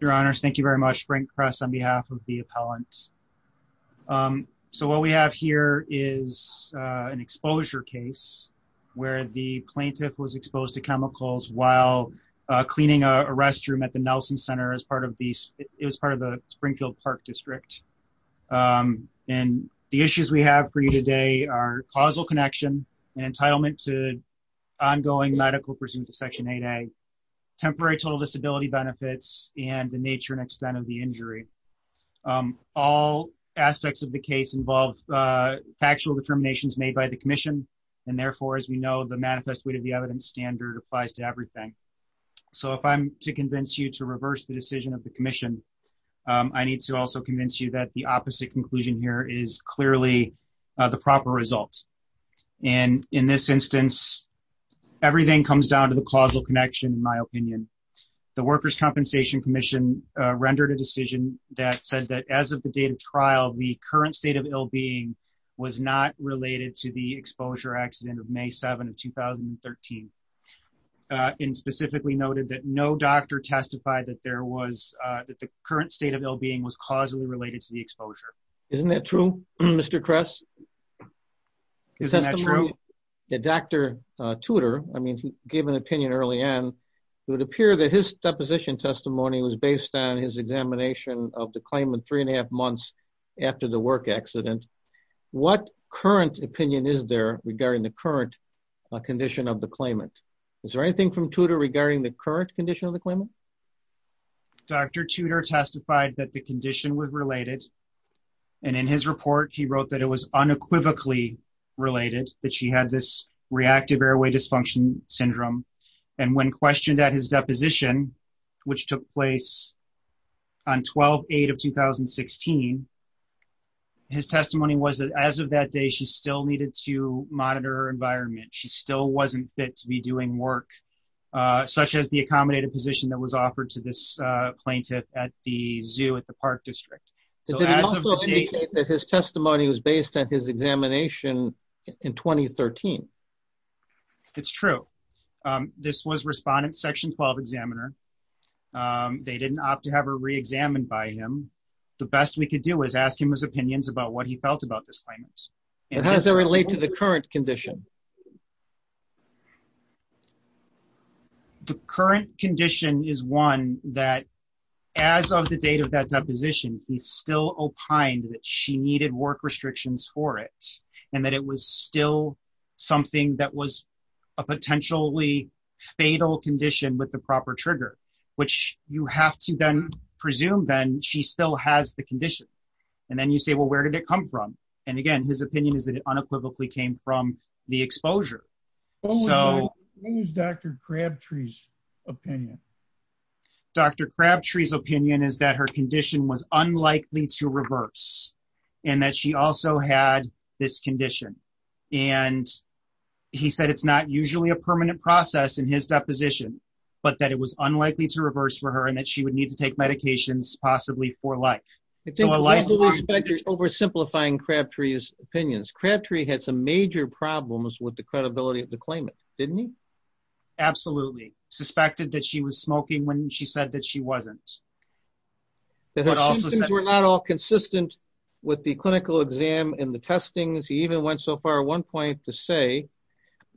Your honors, thank you very much. Frank Press on behalf of the appellant. So what we have here is an exposure case where the plaintiff was exposed to chemicals while cleaning a restroom at the Nelson Center as part of the Springfield Park District. And the issues we have for you today are causal connection and entitlement to ongoing medical presumption to Section 8A, temporary total disability benefits, and the nature and extent of the injury. All aspects of the case involve factual determinations made by the commission. And therefore, as we know, the manifest weight of the evidence standard applies to everything. So if I'm to convince you to reverse the decision of the commission, I need to also convince you that the opposite conclusion here is clearly the proper results. And in this instance, everything comes down to the causal connection, in my opinion. The Workers' Compensation Commission rendered a decision that said that as of the date of trial, the current state of ill-being was not related to the exposure accident of May 7 of 2013. And specifically noted that no doctor testified that the current state of Isn't that true, Mr. Kress? Isn't that true? Dr. Tudor, I mean, he gave an opinion early on. It would appear that his deposition testimony was based on his examination of the claimant three and a half months after the work accident. What current opinion is there regarding the current condition of the claimant? Is there anything from Tudor regarding the current condition of the claimant? Dr. Tudor testified that the condition was related. And in his report, he wrote that it was unequivocally related, that she had this reactive airway dysfunction syndrome. And when questioned at his deposition, which took place on 12-8 of 2016, his testimony was that as of that day, she still needed to monitor her environment. She still wasn't fit to be doing work, such as the accommodated position that was offered to this plaintiff at the zoo at the park district. Did he also indicate that his testimony was based on his examination in 2013? It's true. This was respondent section 12 examiner. They didn't opt to have her re-examined by him. The best we could do was ask him his opinions about what he felt about this claimant. And how does that relate to the current condition? The current condition is one that as of the date of that deposition, he still opined that she needed work restrictions for it, and that it was still something that was a potentially fatal condition with the proper trigger, which you have to then presume then she still has the condition. And then you say, well, where did it come from? And again, his opinion is that it unequivocally came from the exposure. What was Dr. Crabtree's opinion? Dr. Crabtree's opinion is that her condition was unlikely to reverse, and that she also had this condition. And he said it's not usually a permanent process in his deposition, but that it was unlikely to reverse for her and that she would to take medications possibly for life. It's oversimplifying Crabtree's opinions. Crabtree had some major problems with the credibility of the claimant, didn't he? Absolutely. Suspected that she was smoking when she said that she wasn't. That her symptoms were not all consistent with the clinical exam and the testings. He even went so far at one point to say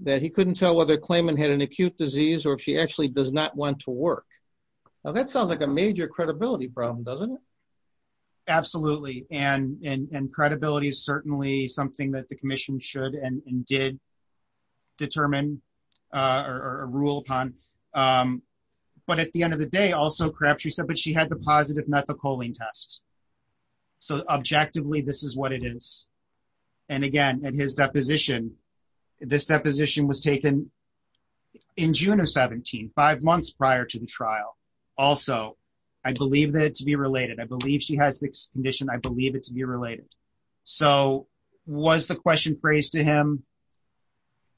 that he couldn't tell whether a claimant had an acute disease or if she actually does not want to work. Now that sounds like a major credibility problem, doesn't it? Absolutely. And credibility is certainly something that the commission should and did determine or rule upon. But at the end of the day, also Crabtree said, but she had the positive methylcholine test. So objectively, this is what it is. And again, at his deposition, this deposition was taken in June of 17, five months prior to the trial. Also, I believe that to be related. I believe she has the condition. I believe it to be related. So was the question phrased to him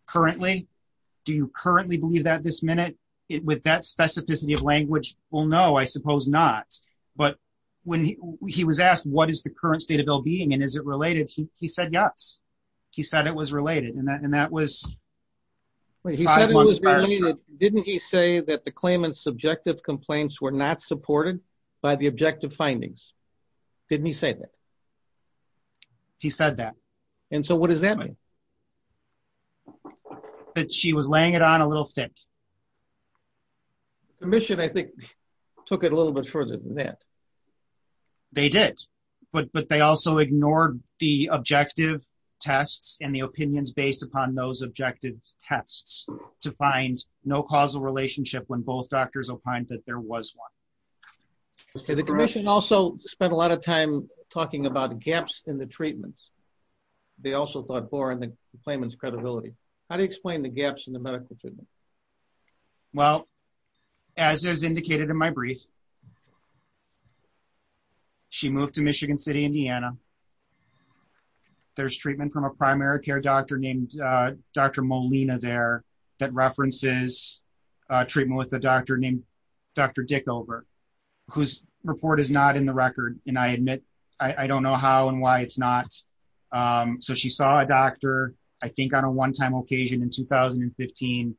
currently? Do you currently believe that this minute with that specificity of language? Well, no, I suppose not. But when he was asked, what is the current state of well-being and is it related? He said yes. He said it was related. And that was five months prior to the trial. Didn't he say that the claimant's subjective complaints were not supported by the objective findings? Didn't he say that? He said that. And so what does that mean? That she was laying it on a little thick. Commission, I think, took it a little bit further than that. They did. But they also ignored the objective tests and the opinions based upon those objective tests to find no causal relationship when both doctors opined that there was one. The commission also spent a lot of time talking about gaps in the treatments. They also thought for the claimant's credibility. How do you explain the gaps in the medical treatment? Well, as is indicated in my brief, she moved to Michigan City, Indiana. There's treatment from a primary care doctor named Dr. Molina there that references treatment with a doctor named Dr. Dickover, whose report is not in the record. And I admit, I don't know how and why it's not. So she saw a doctor, I think, on a one-time occasion in 2015.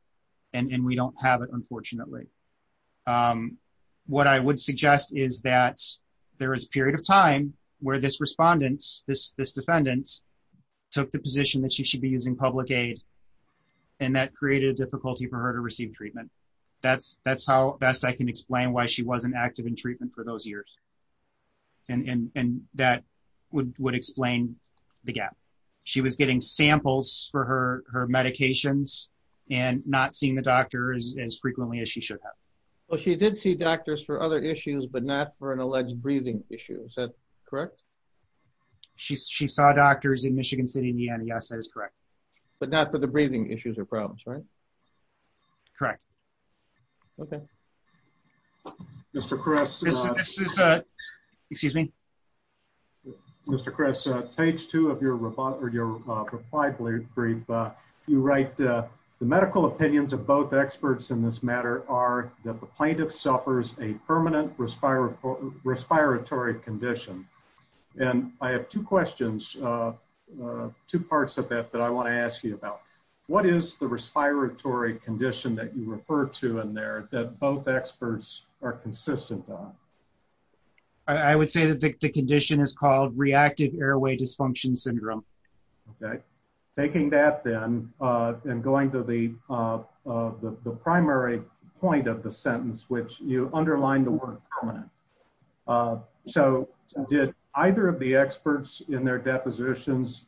And we don't have it, unfortunately. What I would suggest is that there is a period of time where this respondent, this defendant, took the position that she should be using public aid. And that created a difficulty for her to receive treatment. That's how best I can explain why she wasn't active in treatment for those years. And that would explain the gap. She was getting samples for her medications and not seeing the doctors as frequently as she should have. Well, she did see doctors for other issues, but not for an alleged breathing issue. Is that correct? She saw doctors in Michigan City, Indiana. Yes, that is correct. But not for the breathing issues or problems, right? Correct. Okay. Mr. Kress... Excuse me? Mr. Kress, page two of your reply brief, you write, the medical opinions of both experts in this matter are that the plaintiff suffers a permanent respiratory condition. And I have two questions, two parts of that that I want to ask you about. What is the respiratory condition that you refer to in there that both experts are consistent on? I would say that the condition is called reactive airway dysfunction syndrome. Okay. Taking that then, and going to the primary point of the sentence, which you underlined the word permanent. So did either of the experts in their depositions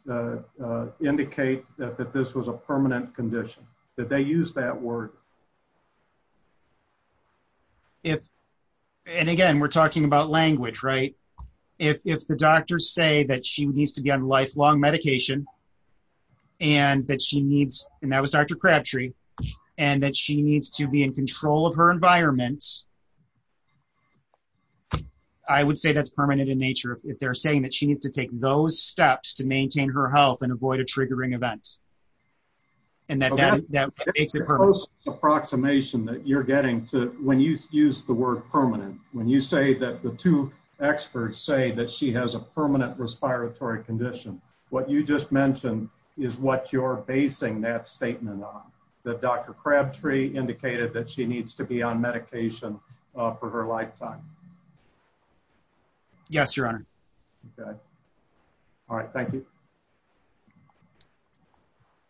indicate that this was a permanent condition? Did they use that word? If, and again, we're talking about language, right? If the doctors say that she needs to be on lifelong medication and that she needs, and that was Dr. Crabtree, and that she needs to be in control of her environment, I would say that's permanent in nature. If they're saying that she needs to take those steps to maintain her health and avoid a triggering event, then that's a permanent condition. Okay. So that's the first approximation that you're getting to when you use the word permanent. When you say that the two experts say that she has a permanent respiratory condition, what you just mentioned is what you're basing that statement on. That Dr. Crabtree indicated that she needs to be on medication for her lifetime. Yes, Your Honor. Okay. All right. Thank you.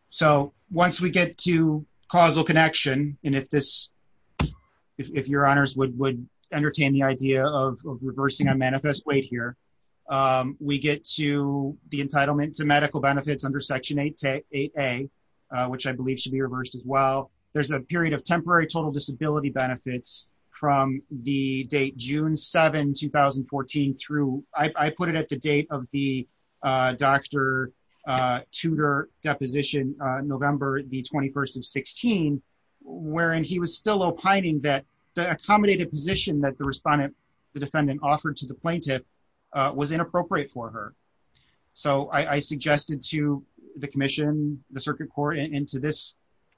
So once we get to causal connection, and if Your Honors would entertain the idea of reversing a manifest weight here, we get to the entitlement to medical benefits under Section 8A, which I believe should be reversed as well. There's a period of temporary total disability benefits from the date June 7, 2014 through, I put it at the date of the Dr. Tudor deposition, November the 21st of 16, wherein he was still opining that the accommodated position that the respondent, the defendant offered to the plaintiff was inappropriate for her. So I suggested to the commission, the circuit court, and to this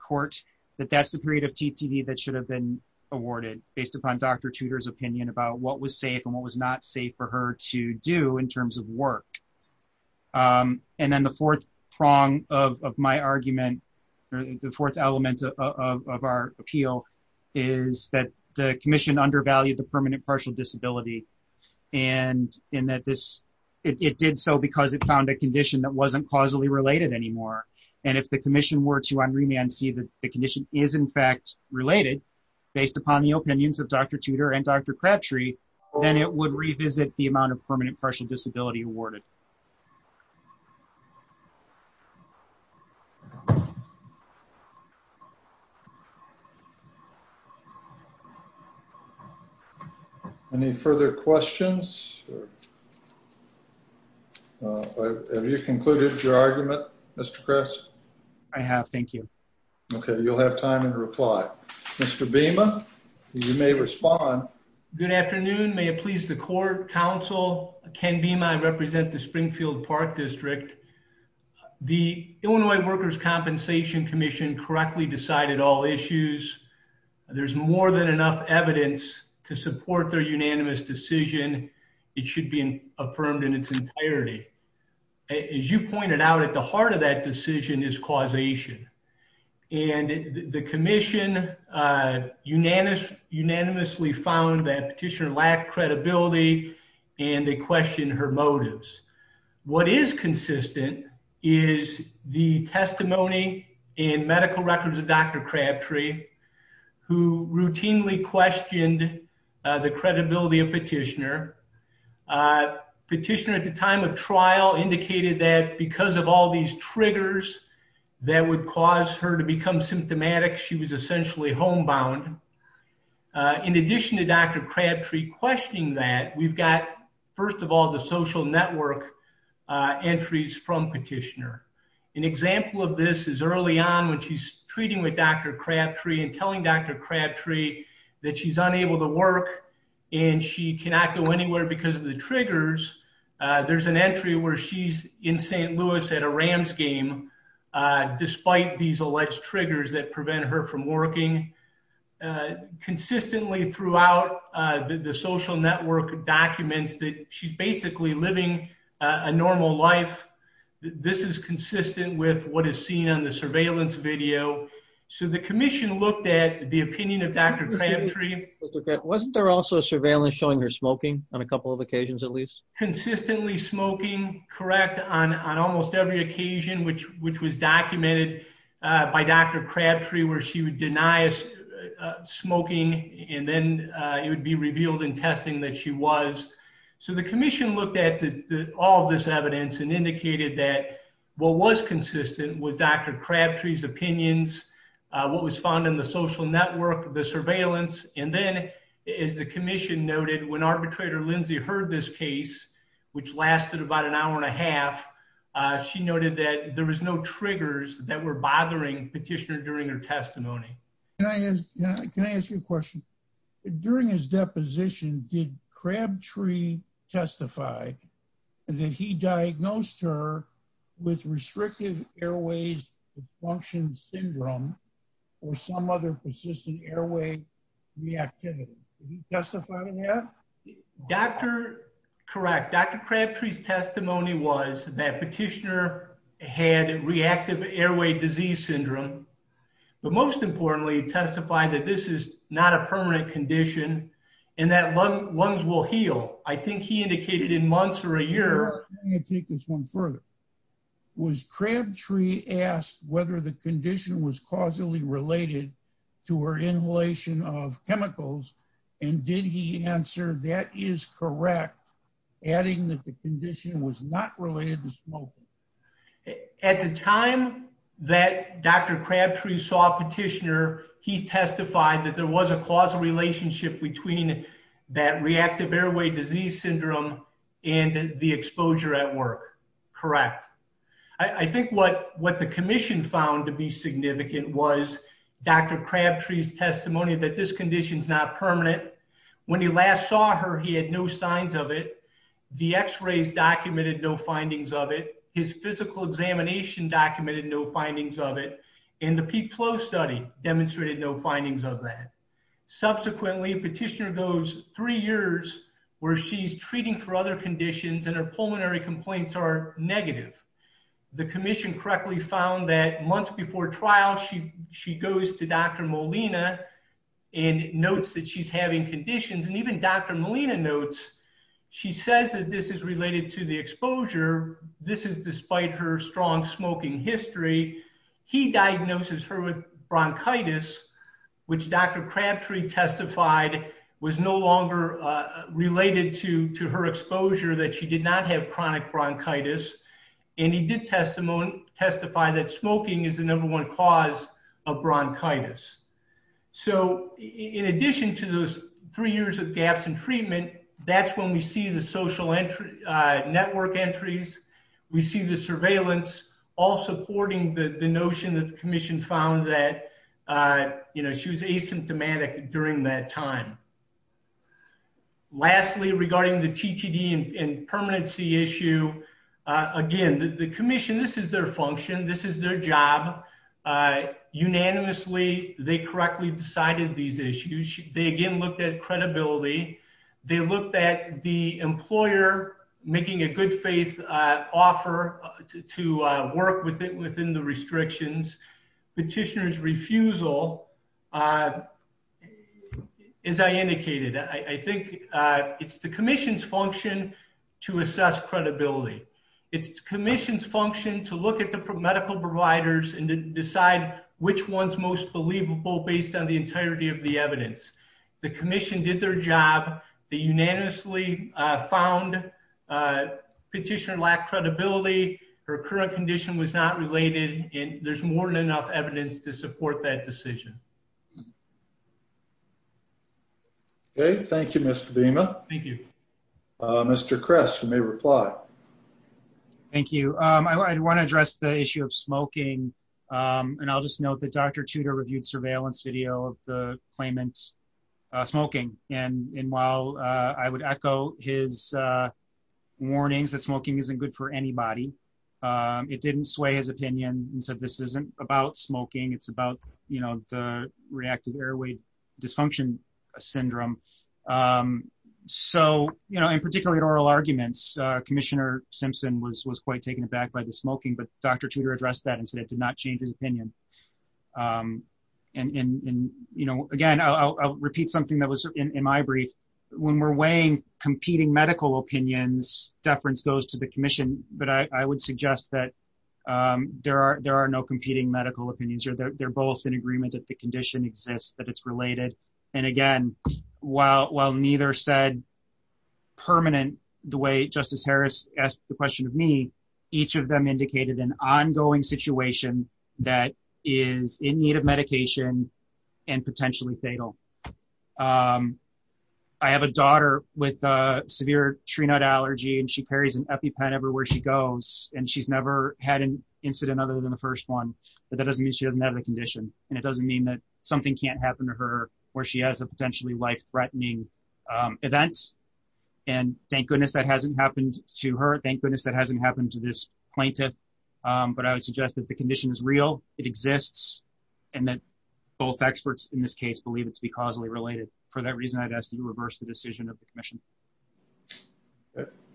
court that that's the period of TTD that should have been awarded based upon Dr. Tudor's opinion about what was safe and what was not safe for her to do in terms of work. And then the fourth prong of my argument, or the fourth element of our appeal is that the commission undervalued the permanent partial disability, and that it did so because it found a condition that wasn't causally related anymore. And if the commission were to, on remand, see that the condition is in fact related based upon the opinions of Dr. Tudor and Dr. Crabtree, then it would revisit the amount of permanent partial disability awarded. Any further questions? Have you concluded your argument, Mr. Kress? I have, thank you. Okay, you'll have time to reply. Mr. Bhima, you may respond. Good afternoon. May it please the court, council, Ken Bhima, I represent the Springfield Park District. The Illinois Workers' Compensation Commission correctly decided all issues. There's more than enough evidence to support their unanimous decision it should be affirmed in its entirety. As you pointed out, at the heart of that decision is causation. And the commission unanimously found that Petitioner lacked credibility and they questioned her motives. What is consistent is the testimony in medical records of Dr. Crabtree, who routinely questioned the credibility of Petitioner. Petitioner at the time of trial indicated that because of all these triggers that would cause her to become symptomatic, she was essentially homebound. In addition to Dr. Crabtree questioning that, we've got, first of all, the social network entries from Petitioner. An example of this is early on when she's treating with Dr. Crabtree and telling Dr. Crabtree that she's unable to work and she cannot go anywhere because of the triggers. There's an entry where she's in St. Louis at a Rams game, despite these alleged triggers that prevent her from working. Consistently throughout the social network documents that she's basically living a normal life, this is consistent with what is seen on the surveillance video. So the commission looked at the opinion of Dr. Crabtree. Wasn't there also surveillance showing her smoking on a couple of occasions at least? Consistently smoking, correct, on almost every occasion which was documented by Dr. Crabtree where she would deny smoking and then it would be revealed in testing that she was. So the commission looked at all this evidence and indicated that what was consistent with Dr. Crabtree's opinions, what was found in the social network, the surveillance, and then as the commission noted when arbitrator Lindsay heard this case, which lasted about an hour and a half, she noted that there was no triggers that were bothering Petitioner during her testimony. Can I ask you a question? During his deposition, did Crabtree testify that he diagnosed her with restrictive airways dysfunction syndrome or some other persistent airway reactivity? Did he testify to that? Correct. Dr. Crabtree's testimony was that Petitioner had reactive airway disease syndrome but most importantly testified that this is not a permanent condition and that lungs will heal. I think he indicated in months or a year. Let me take this one further. Was Crabtree asked whether the condition was causally related to her inhalation of chemicals and did he answer that is correct adding that the condition was not related to at the time that Dr. Crabtree saw Petitioner, he testified that there was a causal relationship between that reactive airway disease syndrome and the exposure at work. Correct. I think what what the commission found to be significant was Dr. Crabtree's testimony that this condition is not permanent. When he last saw her, he had no signs of it. The x-rays documented no findings of it. His physical examination documented no findings of it and the peak flow study demonstrated no findings of that. Subsequently, Petitioner goes three years where she's treating for other conditions and her pulmonary complaints are negative. The commission correctly found that months before trial, she goes to Dr. Molina and notes that she's having conditions and even Dr. Crabtree, despite her strong smoking history, he diagnoses her with bronchitis which Dr. Crabtree testified was no longer related to her exposure that she did not have chronic bronchitis and he did testify that smoking is the number one cause of bronchitis. So in addition to those three years of gaps in treatment, that's when we see the social network entries. We see the surveillance all supporting the notion that the commission found that she was asymptomatic during that time. Lastly, regarding the TTD and permanency issue, again the commission, this is their function, this is their job. Unanimously, they correctly decided these issues. They again looked at credibility. They looked at the employer making a good faith offer to work within the restrictions. Petitioner's refusal, as I indicated, I think it's the commission's function to assess credibility. It's the commission's function to look at the medical providers and decide which one's most believable based on the entirety of the evidence. The commission did their job. They unanimously found petitioner lacked credibility. Her current condition was not related and there's more than enough evidence to support that decision. Okay, thank you Mr. Dima. Thank you. Mr. Kress, you may reply. Thank you. I want to address the issue of smoking and I'll just note that Dr. Tudor reviewed surveillance video of the claimant smoking. While I would echo his warnings that smoking isn't good for anybody, it didn't sway his opinion and said this isn't about smoking, it's about the reactive airway dysfunction syndrome. In particular, in oral arguments, Commissioner Simpson was quite taken aback by the smoking, but Dr. Tudor addressed that and said it did not change his opinion. Again, I'll repeat something that was in my brief. When we're weighing competing medical opinions, deference goes to the commission, but I would suggest that there are no competing medical opinions. They're both in agreement that the asked the question of me, each of them indicated an ongoing situation that is in need of medication and potentially fatal. I have a daughter with a severe tree nut allergy and she carries an EpiPen everywhere she goes and she's never had an incident other than the first one, but that doesn't mean she doesn't have the condition and it doesn't mean that something can't happen to her or she has a potentially life-threatening event. Thank goodness that hasn't happened to her, thank goodness that hasn't happened to this plaintiff, but I would suggest that the condition is real, it exists, and that both experts in this case believe it to be causally related. For that reason, I'd ask that you reverse the decision of the commission.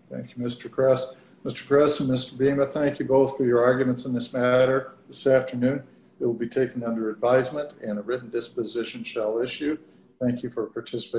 Thank you, Mr. Kress. Mr. Kress and Mr. Beema, thank you both for your arguments on this matter this afternoon. It will be taken under advisement and a written disposition shall issue. Thank you for participating.